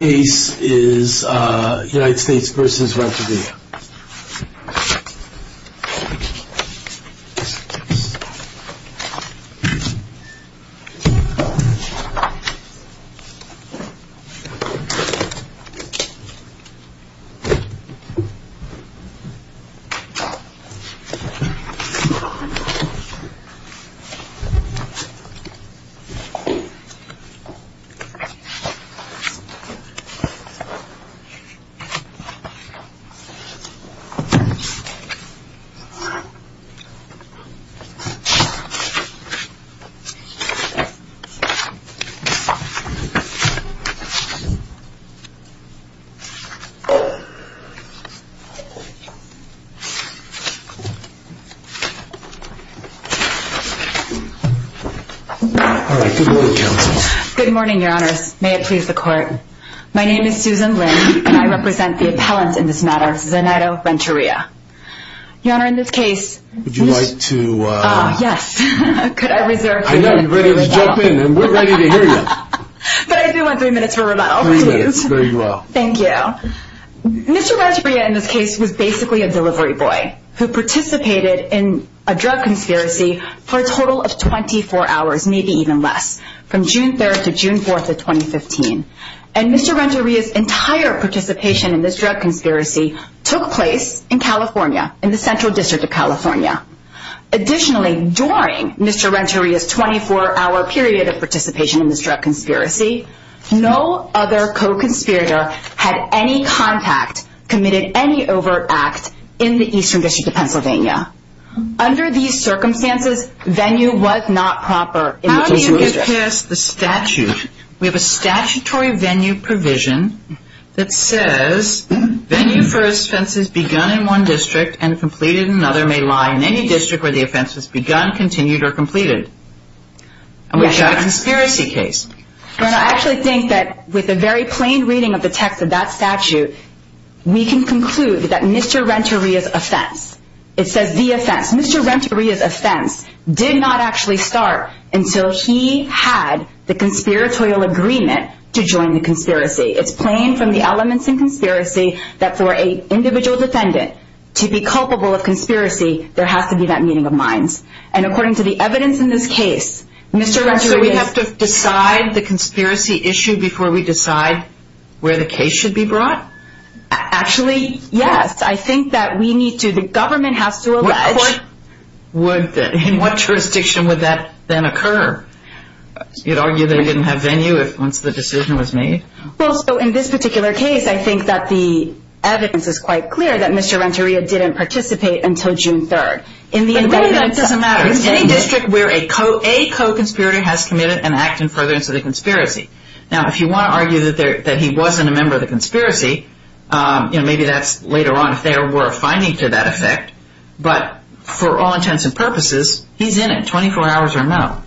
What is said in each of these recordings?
The case is United States v. Renteria Good morning, your honors. May it please the court. My name is Susan Lin and I represent the appellant in this matter, Zenaido Renteria. Your honor, in this case... Would you like to... Ah, yes. Could I reserve... I know, you're ready to jump in and we're ready to hear you. But I do want three minutes for rebuttal, please. Three minutes, very well. Thank you. Mr. Renteria, in this case, was basically a delivery boy who participated in a drug conspiracy for a total of 24 hours, maybe even less, from June 3rd to June 4th of 2015. And Mr. Renteria's entire participation in this drug conspiracy took place in California, in the Central District of California. Additionally, during Mr. Renteria's 24-hour period of participation in this drug conspiracy, no other co-conspirator had any contact, committed any overt act, in the Eastern District of Pennsylvania. Under these circumstances, venue was not proper in the Eastern District. In this case, the statute, we have a statutory venue provision that says, venue for offense has begun in one district and completed in another may lie in any district where the offense has begun, continued, or completed. And we've got a conspiracy case. Your honor, I actually think that with a very plain reading of the text of that statute, we can conclude that Mr. Renteria's offense, it says the offense, Mr. Renteria's offense did not actually start until he had the conspiratorial agreement to join the conspiracy. It's plain from the elements in conspiracy that for an individual defendant to be culpable of conspiracy, there has to be that meeting of minds. And according to the evidence in this case, Mr. Renteria's... So we have to decide the conspiracy issue before we decide where the case should be brought? Actually, yes. I think that we need to, the government has to allege... In what jurisdiction would that then occur? You'd argue they didn't have venue once the decision was made? Well, so in this particular case, I think that the evidence is quite clear that Mr. Renteria didn't participate until June 3rd. But where that doesn't matter. It's any district where a co-conspirator has committed an act in furtherance of the conspiracy. Now, if you want to argue that he wasn't a member of the conspiracy, maybe that's later on if there were a finding to that effect. But for all intents and purposes, he's in it, 24 hours or no.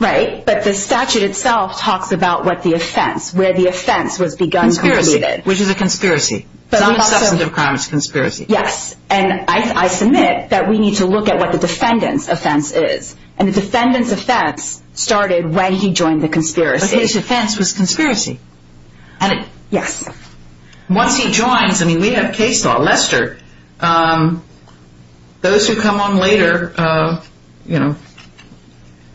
Right, but the statute itself talks about what the offense, where the offense was begun... Conspiracy, which is a conspiracy. It's not a substantive crime, it's a conspiracy. Yes, and I submit that we need to look at what the defendant's offense is. And the defendant's offense started when he joined the conspiracy. But his offense was conspiracy? Yes. Once he joins, I mean, we have case law. Lester, those who come on later, you know,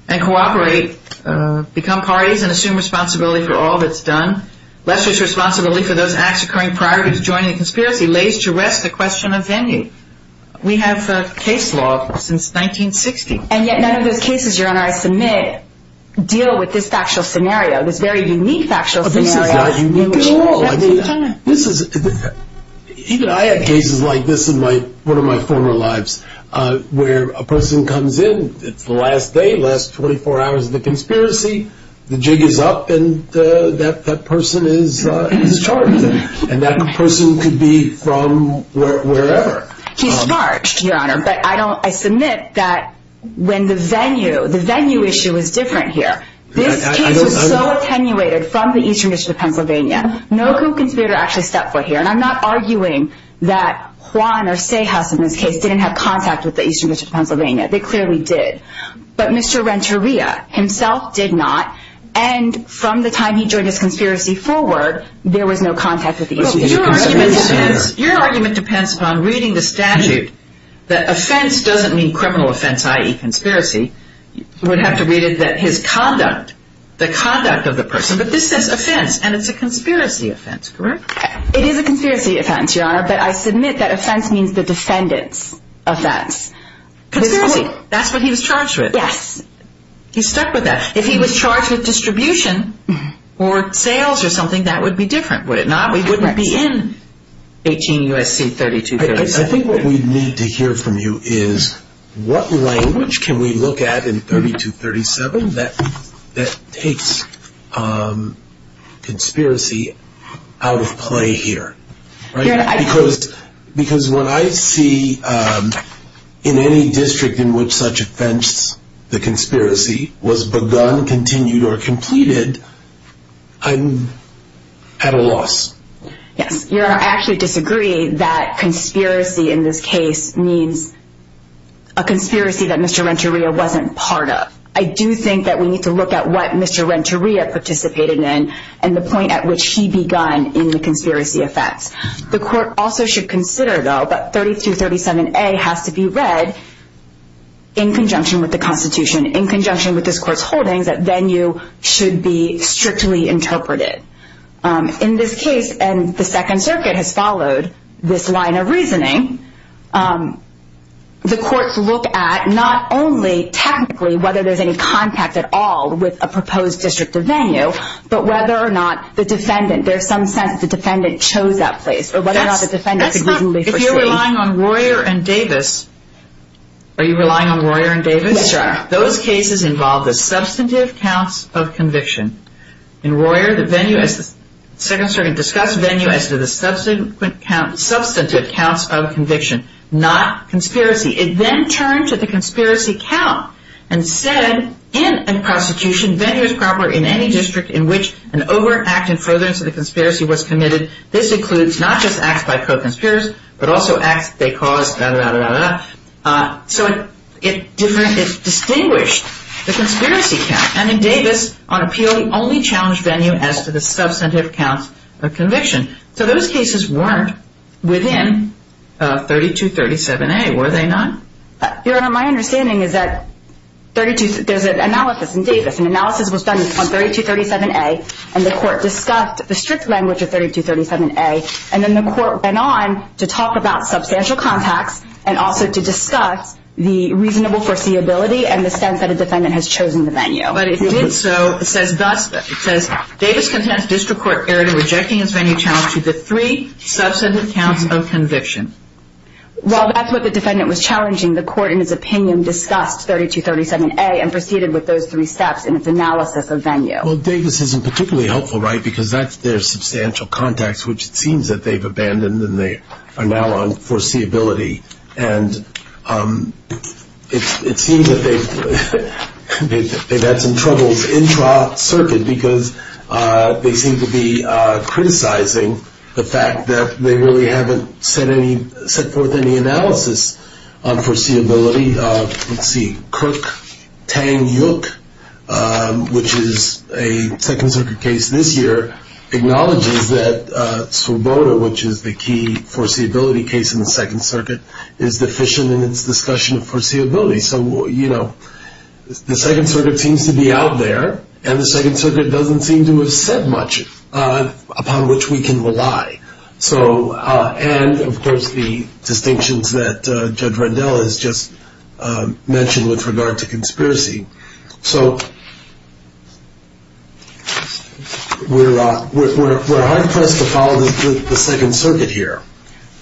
and cooperate, become parties and assume responsibility for all that's done. Lester's responsibility for those acts occurring prior to joining the conspiracy lays to rest the question of venue. We have case law since 1960. And yet none of those cases, Your Honor, I submit, deal with this factual scenario, this very unique factual scenario. This is not unique at all. Even I had cases like this in one of my former lives, where a person comes in, it's the last day, last 24 hours of the conspiracy, the jig is up, and that person is charged. And that person could be from wherever. He's charged, Your Honor, but I submit that when the venue, the venue issue is different here. This case was so attenuated from the Eastern District of Pennsylvania. No conspirator actually stepped foot here. And I'm not arguing that Juan or Sayhouse in this case didn't have contact with the Eastern District of Pennsylvania. They clearly did. But Mr. Renteria himself did not. And from the time he joined his conspiracy forward, there was no contact with the Eastern District of Pennsylvania. Your argument depends upon reading the statute that offense doesn't mean criminal offense, i.e. conspiracy. You would have to read it that his conduct, the conduct of the person. But this says offense, and it's a conspiracy offense, correct? It is a conspiracy offense, Your Honor, but I submit that offense means the defendant's offense. Conspiracy. That's what he was charged with. Yes. He stuck with that. If he was charged with distribution or sales or something, that would be different, would it not? We wouldn't be in 18 U.S.C. 3237. I think what we need to hear from you is what language can we look at in 3237 that takes conspiracy out of play here? Because when I see in any district in which such offense, the conspiracy, was begun, continued, or completed, I'm at a loss. Yes. Your Honor, I actually disagree that conspiracy in this case means a conspiracy that Mr. Renteria wasn't part of. I do think that we need to look at what Mr. Renteria participated in and the point at which he begun in the conspiracy offense. The court also should consider, though, that 3237A has to be read in conjunction with the Constitution, in conjunction with this court's holdings, that venue should be strictly interpreted. In this case, and the Second Circuit has followed this line of reasoning, the courts look at not only technically whether there's any contact at all with a proposed district or venue, but whether or not the defendant, there's some sense that the defendant chose that place, or whether or not the defendant could reasonably foresee. If you're relying on Royer and Davis, are you relying on Royer and Davis? Yes, Your Honor. Those cases involve the substantive counts of conviction. In Royer, the venue, as the Second Circuit discussed, venue as to the substantive counts of conviction, not conspiracy. It then turned to the conspiracy count and said, in a prosecution, venue is proper in any district in which an overact in furtherance of the conspiracy was committed. This includes not just acts by co-conspirators, but also acts they caused, blah, blah, blah, blah. So it distinguished the conspiracy count. And in Davis, on appeal, he only challenged venue as to the substantive counts of conviction. So those cases weren't within 3237A, were they not? Your Honor, my understanding is that there's an analysis in Davis. An analysis was done on 3237A, and the court discussed the strict language of 3237A. And then the court went on to talk about substantial contacts and also to discuss the reasonable foreseeability and the sense that a defendant has chosen the venue. But it did so, it says thus, it says, Davis contends district court erred in rejecting its venue challenge to the three substantive counts of conviction. Well, that's what the defendant was challenging. The court, in its opinion, discussed 3237A and proceeded with those three steps in its analysis of venue. Well, Davis isn't particularly helpful, right, because that's their substantial contacts, which it seems that they've abandoned, and they are now on foreseeability. And it seems that they've had some troubles in trial circuit because they seem to be criticizing the fact that they really haven't set forth any analysis on foreseeability. Let's see, Kirk Tang Yuk, which is a Second Circuit case this year, acknowledges that Svoboda, which is the key foreseeability case in the Second Circuit, is deficient in its discussion of foreseeability. So, you know, the Second Circuit seems to be out there, and the Second Circuit doesn't seem to have said much upon which we can rely. So, and, of course, the distinctions that Judge Rendell has just mentioned with regard to conspiracy. So, we're high pressed to follow the Second Circuit here.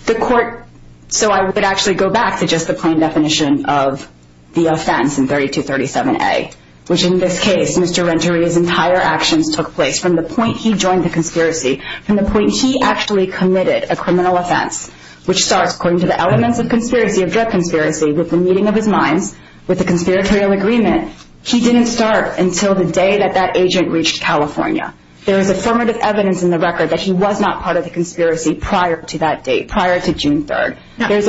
The court, so I would actually go back to just the plain definition of the offense in 3237A, which in this case, Mr. Renteria's entire actions took place from the point he joined the conspiracy, from the point he actually committed a criminal offense, which starts, according to the elements of conspiracy, of drug conspiracy, with the meeting of his minds, with the conspiratorial agreement. He didn't start until the day that that agent reached California. There is affirmative evidence in the record that he was not part of the conspiracy prior to that date, prior to June 3rd. There's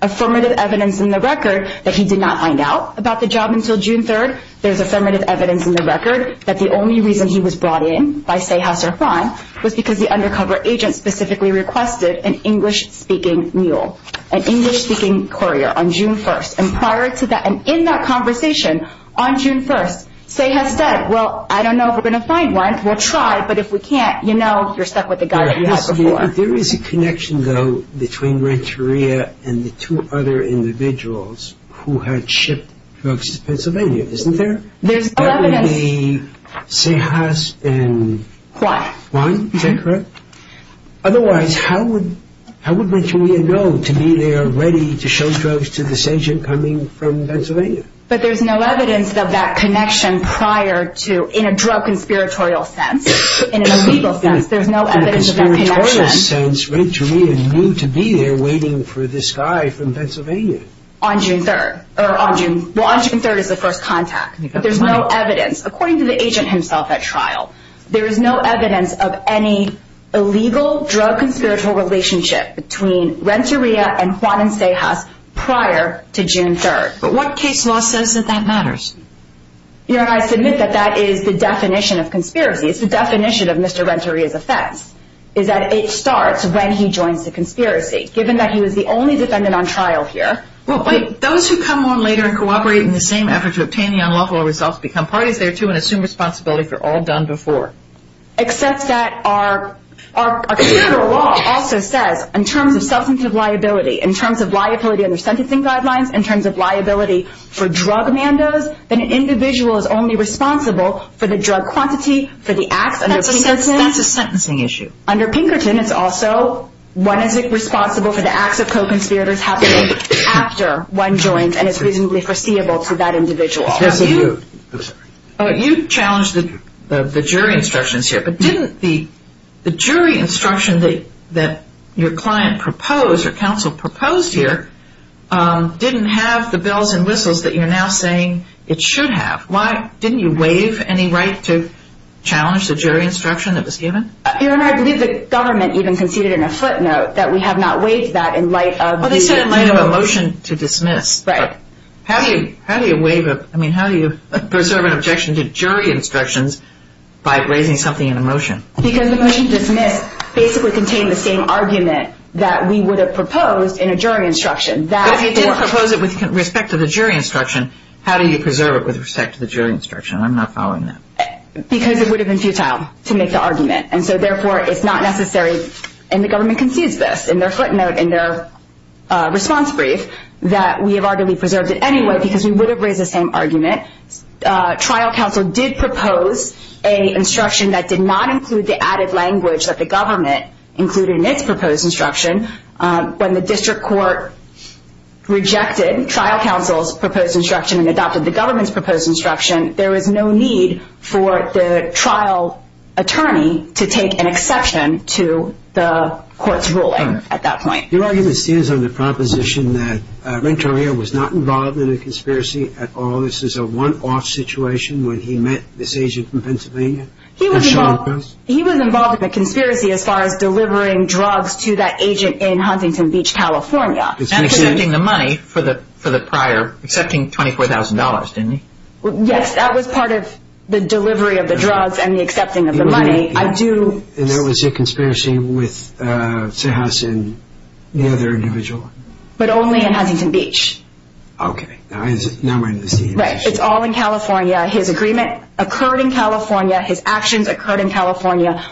affirmative evidence in the record that he did not find out about the job until June 3rd. There's affirmative evidence in the record that the only reason he was brought in by Sayhas or Kwan was because the undercover agent specifically requested an English-speaking mule, an English-speaking courier on June 1st, and prior to that, and in that conversation on June 1st, Sayhas said, well, I don't know if we're going to find one. We'll try, but if we can't, you know, you're stuck with the guy that you had before. There is a connection, though, between Renteria and the two other individuals who had shipped drugs to Pennsylvania, isn't there? There's no evidence. That would be Sayhas and Kwan, is that correct? Otherwise, how would Renteria know to me they are ready to show drugs to this agent coming from Pennsylvania? But there's no evidence of that connection prior to, in a drug conspiratorial sense, in a legal sense. There's no evidence of that connection. In a conspiratorial sense, Renteria knew to be there waiting for this guy from Pennsylvania. On June 3rd. Well, on June 3rd is the first contact, but there's no evidence. According to the agent himself at trial, there is no evidence of any illegal drug conspiratorial relationship between Renteria and Kwan and Sayhas prior to June 3rd. But what case law says that that matters? You know, and I submit that that is the definition of conspiracy. It's the definition of Mr. Renteria's offense, is that it starts when he joins the conspiracy, given that he was the only defendant on trial here. Well, wait. Those who come on later and cooperate in the same effort to obtain the unlawful results become parties thereto and assume responsibility for all done before. Except that our conspiratorial law also says, in terms of substantive liability, in terms of liability under sentencing guidelines, in terms of liability for drug mandos, that an individual is only responsible for the drug quantity, for the acts under Pinkerton. That's a sentencing issue. Under Pinkerton, it's also one is responsible for the acts of co-conspirators happening after one joins and is reasonably foreseeable to that individual. You challenged the jury instructions here, but didn't the jury instruction that your client proposed or counsel proposed here didn't have the bells and whistles that you're now saying it should have? Why? Didn't you waive any right to challenge the jury instruction that was given? Your Honor, I believe the government even conceded in a footnote that we have not waived that in light of the Well, they said in light of a motion to dismiss. Right. How do you preserve an objection to jury instructions by raising something in a motion? Because the motion to dismiss basically contained the same argument that we would have proposed in a jury instruction. But if you did propose it with respect to the jury instruction, how do you preserve it with respect to the jury instruction? I'm not following that. Because it would have been futile to make the argument, and so therefore it's not necessary, and the government concedes this in their footnote, in their response brief, that we have arguably preserved it anyway because we would have raised the same argument. Trial counsel did propose an instruction that did not include the added language that the government included in its proposed instruction when the district court rejected trial counsel's proposed instruction and adopted the government's proposed instruction. There was no need for the trial attorney to take an exception to the court's ruling at that point. Your argument still is on the proposition that Renteria was not involved in a conspiracy at all. This is a one-off situation when he met this agent from Pennsylvania? He was involved in a conspiracy as far as delivering drugs to that agent in Huntington Beach, California. And accepting the money for the prior, accepting $24,000, didn't he? Yes, that was part of the delivery of the drugs and the accepting of the money. And that was a conspiracy with Cejas and the other individual? But only in Huntington Beach. Okay, now I understand. Right, it's all in California. His agreement occurred in California. His actions occurred in California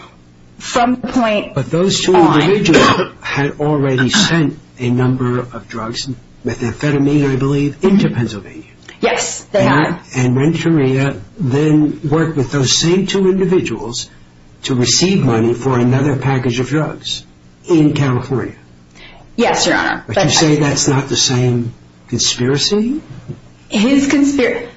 from the point on. But those two individuals had already sent a number of drugs, methamphetamine I believe, into Pennsylvania. Yes, they had. And Renteria then worked with those same two individuals to receive money for another package of drugs in California. Yes, Your Honor. But you say that's not the same conspiracy? His conspiracy...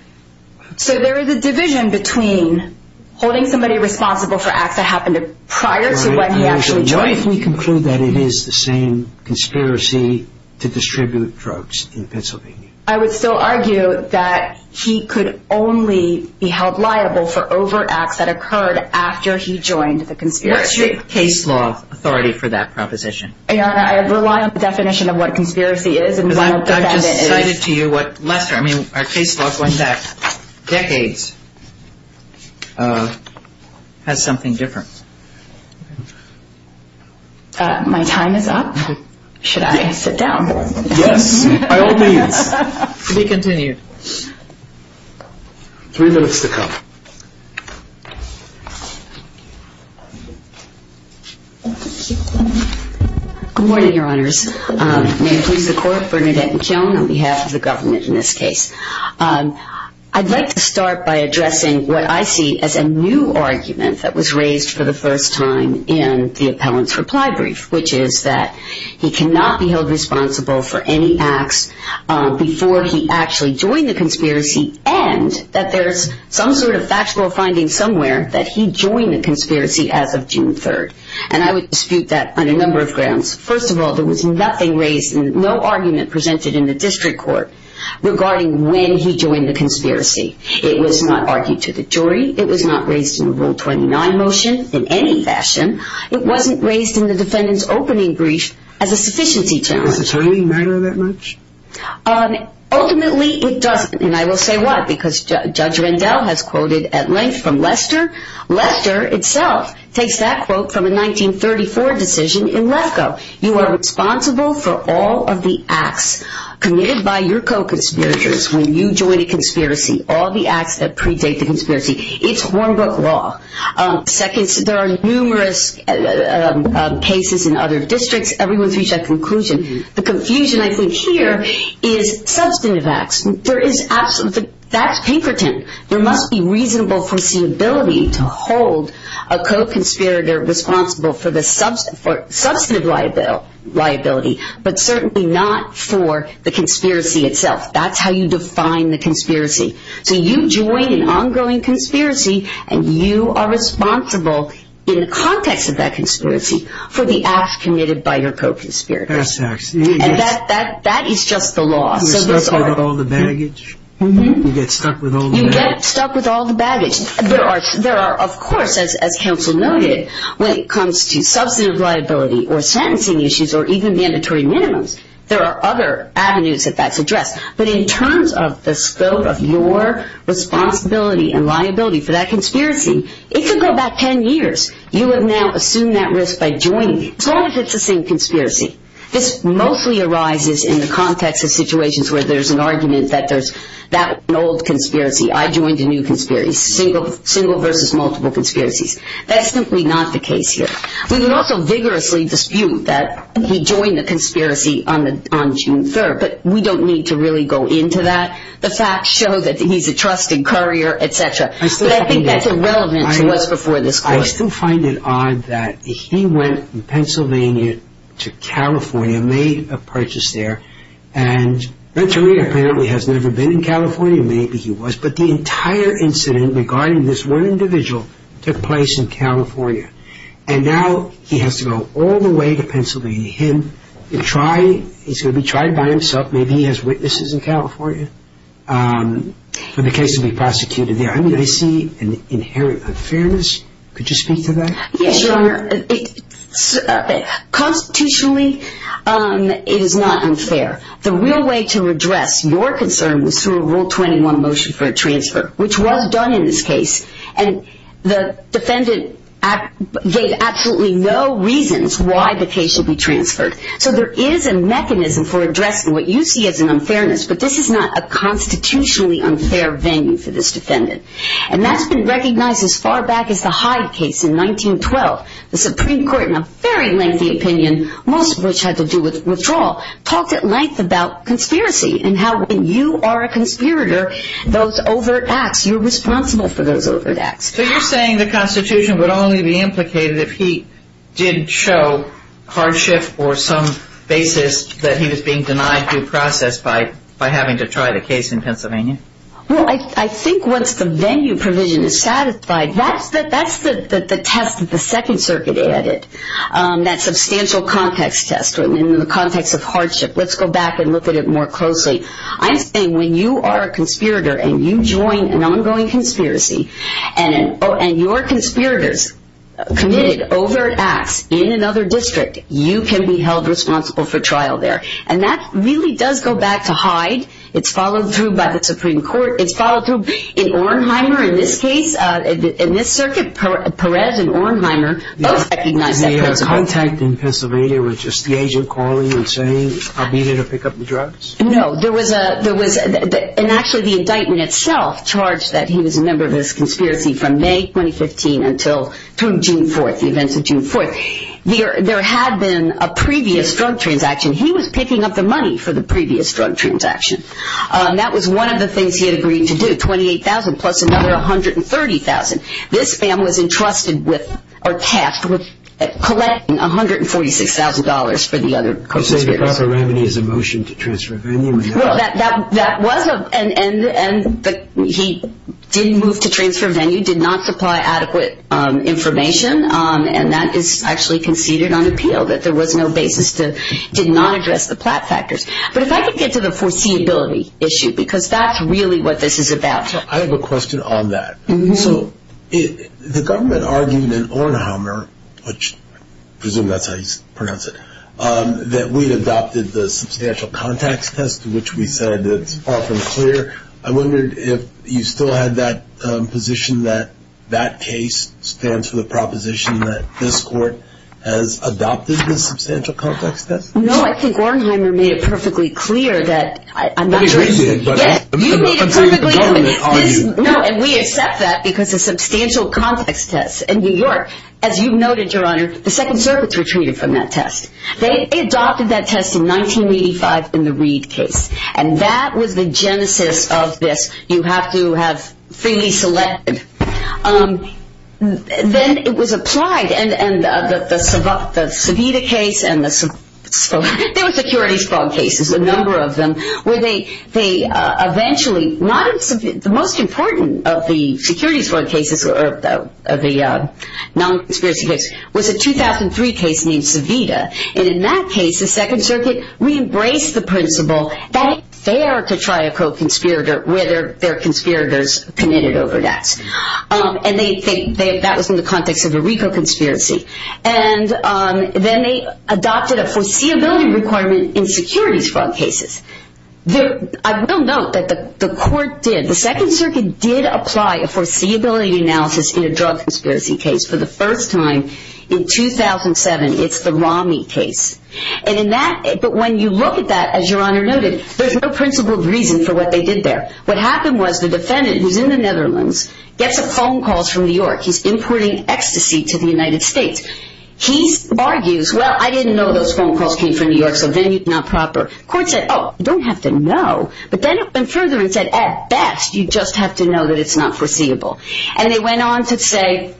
So there is a division between holding somebody responsible for acts that happened prior to when he actually joined... What if we conclude that it is the same conspiracy to distribute drugs in Pennsylvania? I would still argue that he could only be held liable for overacts that occurred after he joined the conspiracy. What's your case law authority for that proposition? Your Honor, I rely on the definition of what a conspiracy is and what a defendant is. I've just cited to you what Lester, I mean our case law going back decades, has something different. My time is up. Should I sit down? Yes, by all means. To be continued. Three minutes to come. Good morning, Your Honors. May it please the Court, Bernadette McKeown on behalf of the government in this case. I'd like to start by addressing what I see as a new argument that was raised for the first time in the appellant's reply brief, which is that he cannot be held responsible for any acts before he actually joined the conspiracy and that there's some sort of factual finding somewhere that he joined the conspiracy as of June 3rd. And I would dispute that on a number of grounds. First of all, there was nothing raised and no argument presented in the district court regarding when he joined the conspiracy. It was not argued to the jury. It was not raised in a Rule 29 motion in any fashion. It wasn't raised in the defendant's opening brief as a sufficiency challenge. Does attorney matter that much? Ultimately, it doesn't. And I will say why, because Judge Rendell has quoted at length from Lester. Lester itself takes that quote from a 1934 decision in Lefkoe. You are responsible for all of the acts committed by your co-conspirators when you join a conspiracy, all the acts that predate the conspiracy. It's hornbook law. Second, there are numerous cases in other districts. Everyone's reached that conclusion. The confusion, I think, here is substantive acts. That's pinkerton. There must be reasonable foreseeability to hold a co-conspirator responsible for the substantive liability, but certainly not for the conspiracy itself. That's how you define the conspiracy. So you join an ongoing conspiracy, and you are responsible in the context of that conspiracy for the acts committed by your co-conspirators. And that is just the law. You're stuck with all the baggage. You get stuck with all the baggage. You get stuck with all the baggage. There are, of course, as counsel noted, when it comes to substantive liability or sentencing issues or even mandatory minimums, there are other avenues that that's addressed. But in terms of the scope of your responsibility and liability for that conspiracy, it could go back 10 years. You have now assumed that risk by joining. As long as it's the same conspiracy. This mostly arises in the context of situations where there's an argument that there's that old conspiracy, I joined a new conspiracy, single versus multiple conspiracies. That's simply not the case here. We can also vigorously dispute that we joined the conspiracy on June 3rd, but we don't need to really go into that. The facts show that he's a trusted courier, et cetera. But I think that's irrelevant to what's before this court. I still find it odd that he went from Pennsylvania to California, made a purchase there, and Venturino apparently has never been in California. Maybe he was. But the entire incident regarding this one individual took place in California. And now he has to go all the way to Pennsylvania. He's going to be tried by himself. Maybe he has witnesses in California for the case to be prosecuted there. I see an inherent unfairness. Could you speak to that? Yes, Your Honor. Constitutionally, it is not unfair. The real way to address your concern was through a Rule 21 motion for a transfer, which was done in this case. And the defendant gave absolutely no reasons why the case should be transferred. So there is a mechanism for addressing what you see as an unfairness, but this is not a constitutionally unfair venue for this defendant. And that's been recognized as far back as the Hyde case in 1912. The Supreme Court, in a very lengthy opinion, most of which had to do with withdrawal, talked at length about conspiracy and how when you are a conspirator, those overt acts, you're responsible for those overt acts. So you're saying the Constitution would only be implicated if he did show hardship or some basis that he was being denied due process by having to try the case in Pennsylvania? Well, I think once the venue provision is satisfied, that's the test that the Second Circuit added, that substantial context test in the context of hardship. Let's go back and look at it more closely. I'm saying when you are a conspirator and you join an ongoing conspiracy and your conspirators committed overt acts in another district, you can be held responsible for trial there. And that really does go back to Hyde. It's followed through by the Supreme Court. It's followed through in Ornheimer. In this case, in this circuit, Perez and Ornheimer both recognized that Pennsylvania. The contact in Pennsylvania was just the agent calling and saying, I'll be there to pick up the drugs? No, there was a – and actually the indictment itself charged that he was a member of this conspiracy from May 2015 until June 4th, the events of June 4th. There had been a previous drug transaction. He was picking up the money for the previous drug transaction. That was one of the things he had agreed to do, $28,000 plus another $130,000. This man was entrusted with or tasked with collecting $146,000 for the other conspirators. So you're saying the proper remedy is a motion to transfer venue? Well, that was a – and he did move to transfer venue, did not supply adequate information, and that is actually conceded on appeal, that there was no basis to – did not address the Platt factors. But if I could get to the foreseeability issue, because that's really what this is about. I have a question on that. So the government argued in Ornheimer, which I presume that's how you pronounce it, that we adopted the substantial context test, which we said is far from clear. I wondered if you still had that position that that case stands for the proposition that this court has adopted the substantial context test? No, I think Ornheimer made it perfectly clear that – Yes, you made it perfectly clear. No, and we accept that because the substantial context test in New York, as you noted, Your Honor, the Second Circuits were treated from that test. They adopted that test in 1985 in the Reed case, and that was the genesis of this, you have to have freely selected. Then it was applied, and the Savita case and the – there were securities fraud cases, a number of them, where they eventually – the most important of the securities fraud cases, of the non-conspiracy case, was a 2003 case named Savita. And in that case, the Second Circuit re-embraced the principle that it's fair to try a co-conspirator where there are conspirators committed over debts. And that was in the context of a RICO conspiracy. And then they adopted a foreseeability requirement in securities fraud cases. I will note that the court did – the Second Circuit did apply a foreseeability analysis in a drug conspiracy case for the first time in 2007. It's the Romney case. And in that – but when you look at that, as Your Honor noted, there's no principled reason for what they did there. What happened was the defendant, who's in the Netherlands, gets a phone call from New York. He's importing ecstasy to the United States. He argues, well, I didn't know those phone calls came from New York, so venue's not proper. Court said, oh, you don't have to know. But then it went further and said, at best, you just have to know that it's not foreseeable. And they went on to say,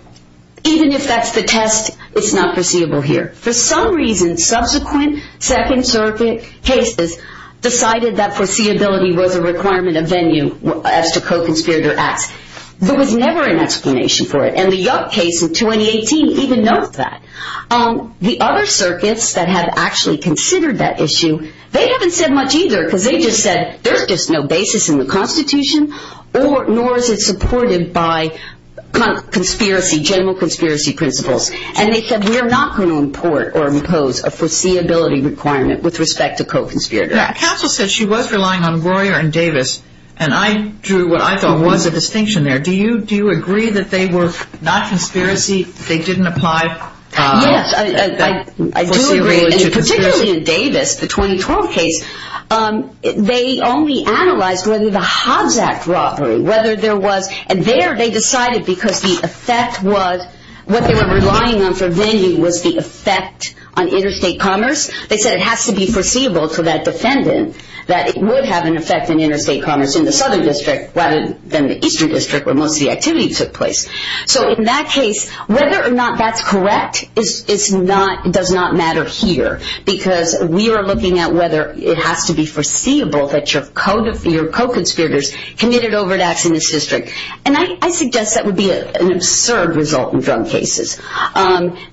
even if that's the test, it's not foreseeable here. For some reason, subsequent Second Circuit cases decided that foreseeability was a requirement of venue as to co-conspirator acts. There was never an explanation for it. And the Yupp case in 2018 even notes that. The other circuits that have actually considered that issue, they haven't said much either because they just said, there's just no basis in the Constitution, nor is it supported by conspiracy, general conspiracy principles. And they said, we're not going to import or impose a foreseeability requirement with respect to co-conspirator acts. Counsel said she was relying on Royer and Davis, and I drew what I thought was a distinction there. Do you agree that they were not conspiracy, they didn't apply foreseeability to conspiracy? Yes, I do agree, and particularly in Davis, the 2012 case, they only analyzed whether the Hobbs Act robbery, whether there was, and there they decided because the effect was, what they were relying on for venue was the effect on interstate commerce. They said it has to be foreseeable to that defendant that it would have an effect on interstate commerce in the southern district rather than the eastern district where most of the activity took place. So in that case, whether or not that's correct does not matter here because we are looking at whether it has to be foreseeable that your co-conspirators committed overdose in this district. And I suggest that would be an absurd result in drug cases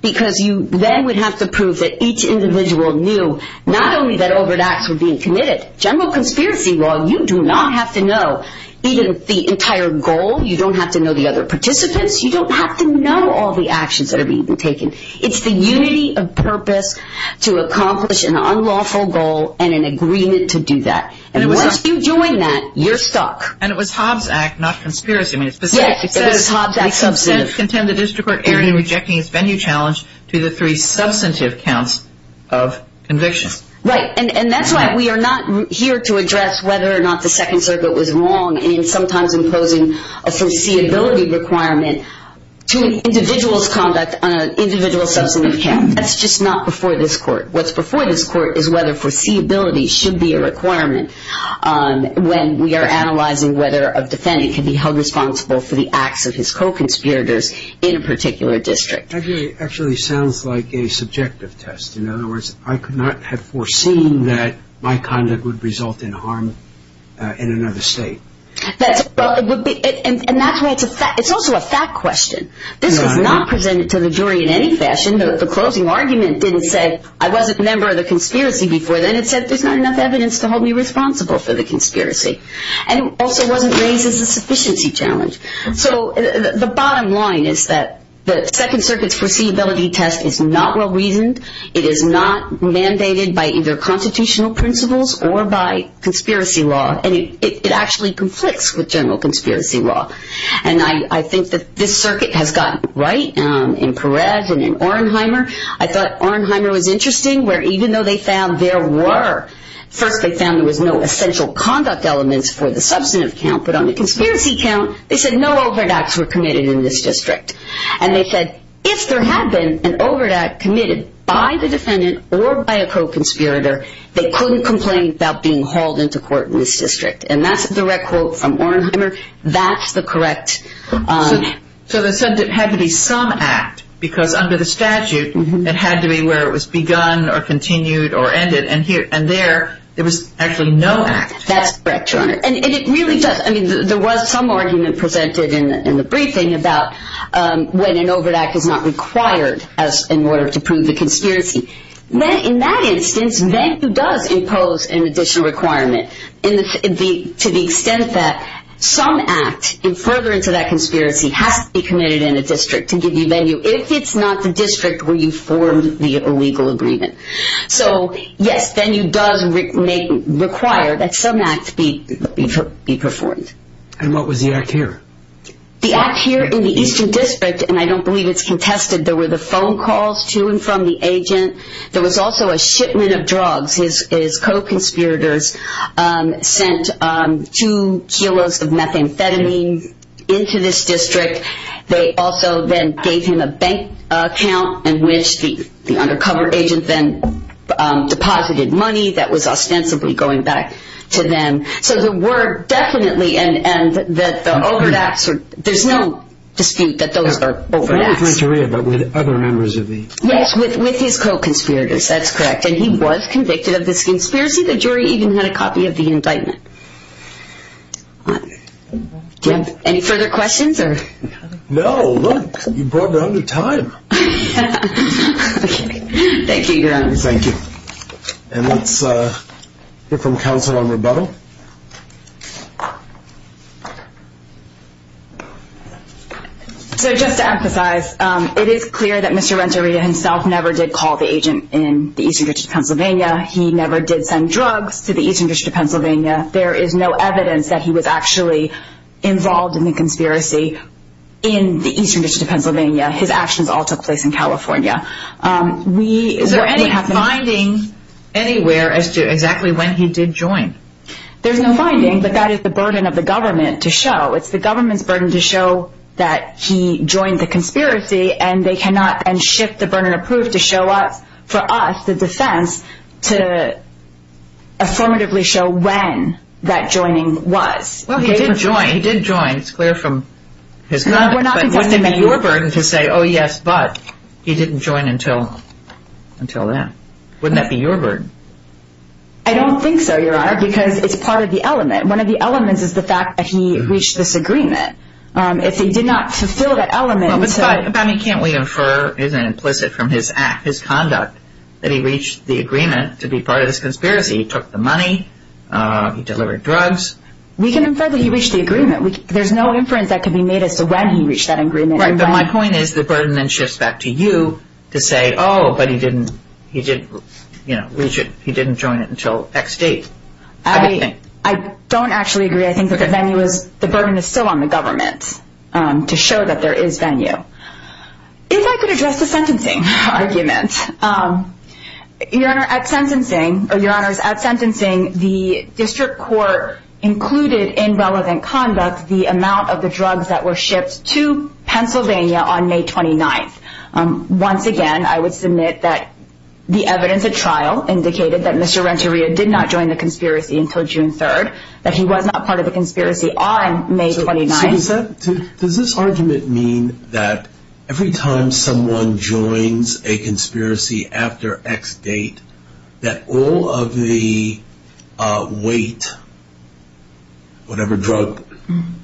because you then would have to prove that each individual knew not only that overdoses were being committed. General conspiracy law, you do not have to know even the entire goal. You don't have to know the other participants. You don't have to know all the actions that are being taken. It's the unity of purpose to accomplish an unlawful goal and an agreement to do that. And once you join that, you're stuck. And it was Hobbs Act, not conspiracy. Yes, it was Hobbs Act substantive. The defense contends the district court erred in rejecting its venue challenge to the three substantive counts of convictions. Right, and that's why we are not here to address whether or not the Second Circuit was wrong in sometimes imposing a foreseeability requirement to an individual's conduct on an individual's substantive count. That's just not before this court. What's before this court is whether foreseeability should be a requirement when we are analyzing whether a defendant can be held responsible for the acts of his co-conspirators in a particular district. That actually sounds like a subjective test. In other words, I could not have foreseen that my conduct would result in harm in another state. And that's why it's also a fact question. This was not presented to the jury in any fashion. The closing argument didn't say I wasn't a member of the conspiracy before then. It said there's not enough evidence to hold me responsible for the conspiracy. And it also wasn't raised as a sufficiency challenge. So the bottom line is that the Second Circuit's foreseeability test is not well-reasoned. It is not mandated by either constitutional principles or by conspiracy law. And it actually conflicts with general conspiracy law. And I think that this circuit has gotten right in Peres and in Orenheimer. I thought Orenheimer was interesting where even though they found there were First, they found there was no essential conduct elements for the substantive count. But on the conspiracy count, they said no overt acts were committed in this district. And they said if there had been an overt act committed by the defendant or by a co-conspirator, they couldn't complain about being hauled into court in this district. And that's a direct quote from Orenheimer. That's the correct... So they said there had to be some act because under the statute, it had to be where it was begun or continued or ended. And there, there was actually no act. That's correct, Your Honor. And it really does. I mean, there was some argument presented in the briefing about when an overt act is not required in order to prove the conspiracy. In that instance, Venue does impose an additional requirement to the extent that some act further into that conspiracy has to be committed in a district to give you Venue if it's not the district where you formed the legal agreement. So, yes, Venue does require that some act be performed. And what was the act here? The act here in the Eastern District, and I don't believe it's contested, there were the phone calls to and from the agent. There was also a shipment of drugs. His co-conspirators sent two kilos of methamphetamine into this district. They also then gave him a bank account in which the undercover agent then deposited money that was ostensibly going back to them. So there were definitely, and the overt acts, there's no dispute that those are overt acts. Not with Renteria, but with other members of the. Yes, with his co-conspirators. That's correct. And he was convicted of this conspiracy. The jury even had a copy of the indictment. Do you have any further questions? No, look, you brought it on in time. Thank you, Your Honor. Thank you. And let's hear from counsel on rebuttal. So just to emphasize, it is clear that Mr. Renteria himself never did call the agent in the Eastern District of Pennsylvania. He never did send drugs to the Eastern District of Pennsylvania. There is no evidence that he was actually involved in the conspiracy in the Eastern District of Pennsylvania. His actions all took place in California. Is there any finding anywhere as to exactly when he did join? There's no finding, but that is the burden of the government to show. It's the government's burden to show that he joined the conspiracy, and shift the burden of proof to show us, for us, the defense, to affirmatively show when that joining was. Well, he did join. He did join. It's clear from his comment. We're not contesting that he did. But what did be your burden to say, oh, yes, but he didn't join until then? Wouldn't that be your burden? I don't think so, Your Honor, because it's part of the element. One of the elements is the fact that he reached this agreement. If he did not fulfill that element. But, Bonnie, can't we infer, is it implicit from his act, his conduct, that he reached the agreement to be part of this conspiracy? He took the money. He delivered drugs. We can infer that he reached the agreement. There's no inference that can be made as to when he reached that agreement. Right, but my point is the burden then shifts back to you to say, oh, but he didn't join it until X date. I don't actually agree. I think the burden is still on the government to show that there is venue. If I could address the sentencing argument. Your Honor, at sentencing, the district court included in relevant conduct the amount of the drugs that were shipped to Pennsylvania on May 29th. Once again, I would submit that the evidence at trial indicated that Mr. Renteria did not join the conspiracy until June 3rd, that he was not part of the conspiracy on May 29th. So does this argument mean that every time someone joins a conspiracy after X date, that all of the weight, whatever drug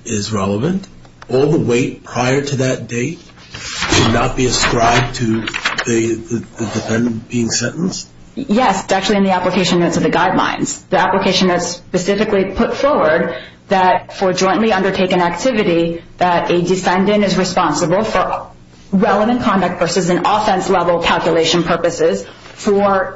is relevant, all the weight prior to that date should not be ascribed to the defendant being sentenced? Yes, it's actually in the application notes of the guidelines. The application notes specifically put forward that for jointly undertaken activity that a descendant is responsible for relevant conduct versus an offense level calculation purposes for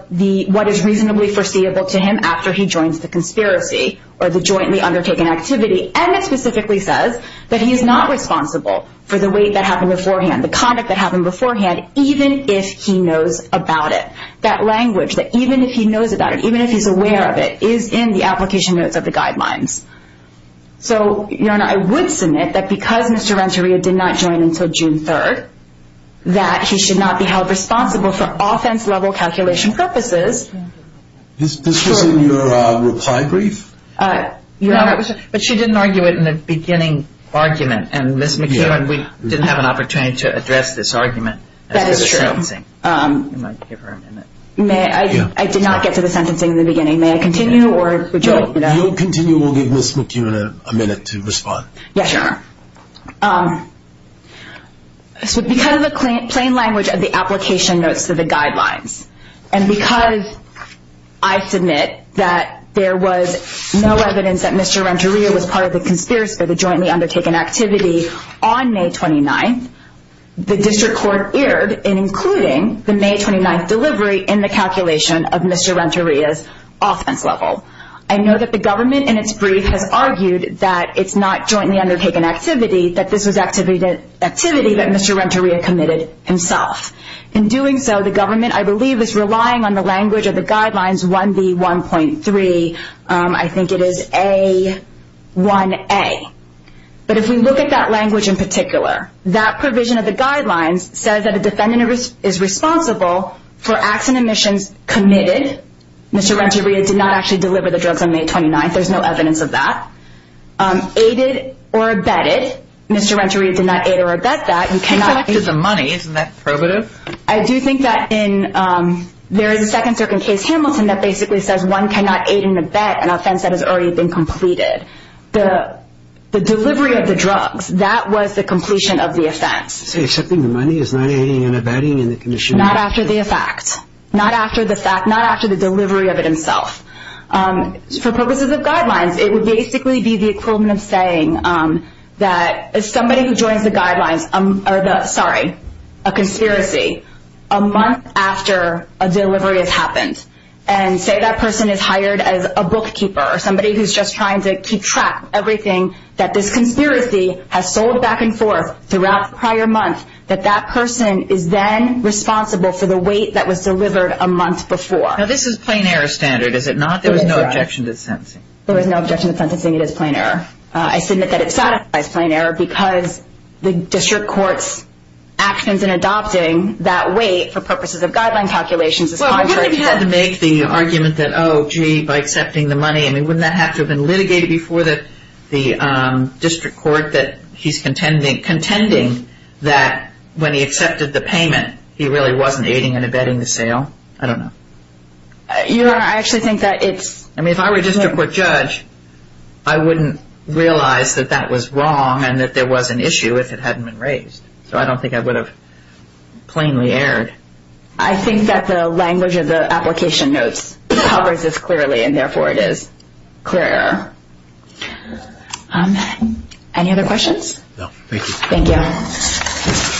what is reasonably foreseeable to him after he joins the conspiracy or the jointly undertaken activity. And it specifically says that he is not responsible for the weight that happened beforehand, the conduct that happened beforehand, even if he knows about it. That language, that even if he knows about it, even if he's aware of it, is in the application notes of the guidelines. So, Your Honor, I would submit that because Mr. Renteria did not join until June 3rd, that he should not be held responsible for offense level calculation purposes. This was in your reply brief? Your Honor, but she didn't argue it in the beginning argument, and Ms. McKeown, we didn't have an opportunity to address this argument. That is true. I did not get to the sentencing in the beginning. May I continue, or would you like me to? If you'll continue, we'll give Ms. McKeown a minute to respond. Yes, Your Honor. Because of the plain language of the application notes to the guidelines, and because I submit that there was no evidence that Mr. Renteria was part of the conspiracy or the jointly undertaken activity on May 29th, the district court erred in including the May 29th delivery in the calculation of Mr. Renteria's offense level. I know that the government in its brief has argued that it's not jointly undertaken activity, that this was activity that Mr. Renteria committed himself. In doing so, the government, I believe, is relying on the language of the guidelines 1B1.3. I think it is A1A. But if we look at that language in particular, that provision of the guidelines says that a defendant is responsible for acts and omissions committed. Mr. Renteria did not actually deliver the drugs on May 29th. There's no evidence of that. Aided or abetted. Mr. Renteria did not aid or abet that. He collected the money. Isn't that probative? I do think that there is a second circuit case, Hamilton, that basically says one cannot aid and abet an offense that has already been completed. The delivery of the drugs, that was the completion of the offense. So accepting the money is not aiding and abetting in the condition of the offense? Not after the effect. Not after the fact. Not after the delivery of it himself. For purposes of guidelines, it would basically be the equivalent of saying that somebody who joins the guidelines, sorry, a conspiracy, a month after a delivery has happened, and say that person is hired as a bookkeeper, somebody who's just trying to keep track of everything, that this conspiracy has sold back and forth throughout the prior month, that that person is then responsible for the weight that was delivered a month before. Now this is plain error standard, is it not? There was no objection to sentencing. There was no objection to sentencing. It is plain error. I submit that it satisfies plain error because the district court's actions in adopting that weight for purposes of guideline calculations is contrary to that. Well, wouldn't he have to make the argument that, oh, gee, by accepting the money, I mean, wouldn't that have to have been litigated before the district court that he's contending that when he accepted the payment, he really wasn't aiding and abetting the sale? I don't know. You know, I actually think that it's... I mean, if I were a district court judge, I wouldn't realize that that was wrong and that there was an issue if it hadn't been raised. So I don't think I would have plainly erred. I think that the language of the application notes covers this clearly, and therefore it is clear error. Any other questions? No. Thank you. Thank you.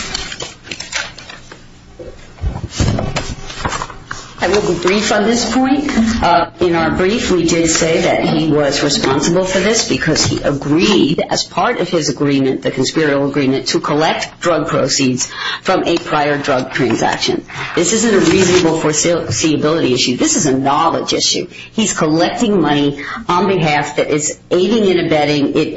I will be brief on this point. In our brief, we did say that he was responsible for this because he agreed, as part of his agreement, the conspiratorial agreement, to collect drug proceeds from a prior drug transaction. This isn't a reasonable foreseeability issue. This is a knowledge issue. He's collecting money on behalf that is aiding and abetting. It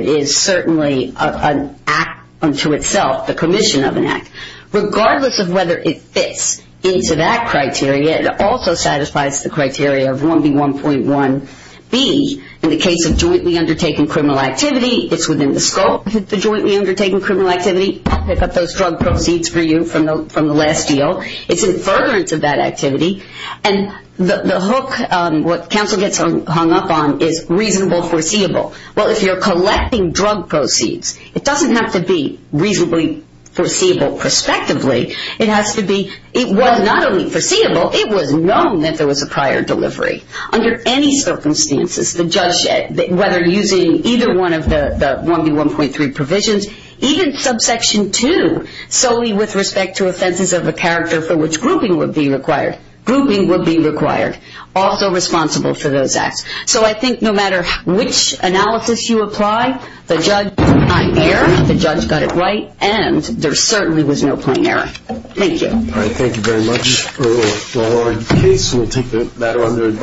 is certainly an act unto itself, the commission of an act. Regardless of whether it fits into that criteria, it also satisfies the criteria of 1B1.1B in the case of jointly undertaking criminal activity. It's within the scope of the jointly undertaking criminal activity. Pick up those drug proceeds for you from the last deal. It's in furtherance of that activity. And the hook, what counsel gets hung up on, is reasonable foreseeable. Well, if you're collecting drug proceeds, it doesn't have to be reasonably foreseeable prospectively. It has to be, it was not only foreseeable, it was known that there was a prior delivery. Under any circumstances, the judge said, whether using either one of the 1B1.3 provisions, even subsection 2, solely with respect to offenses of a character for which grouping would be required, grouping would be required, also responsible for those acts. So I think no matter which analysis you apply, the judge got it right, and there certainly was no point in error. Thank you.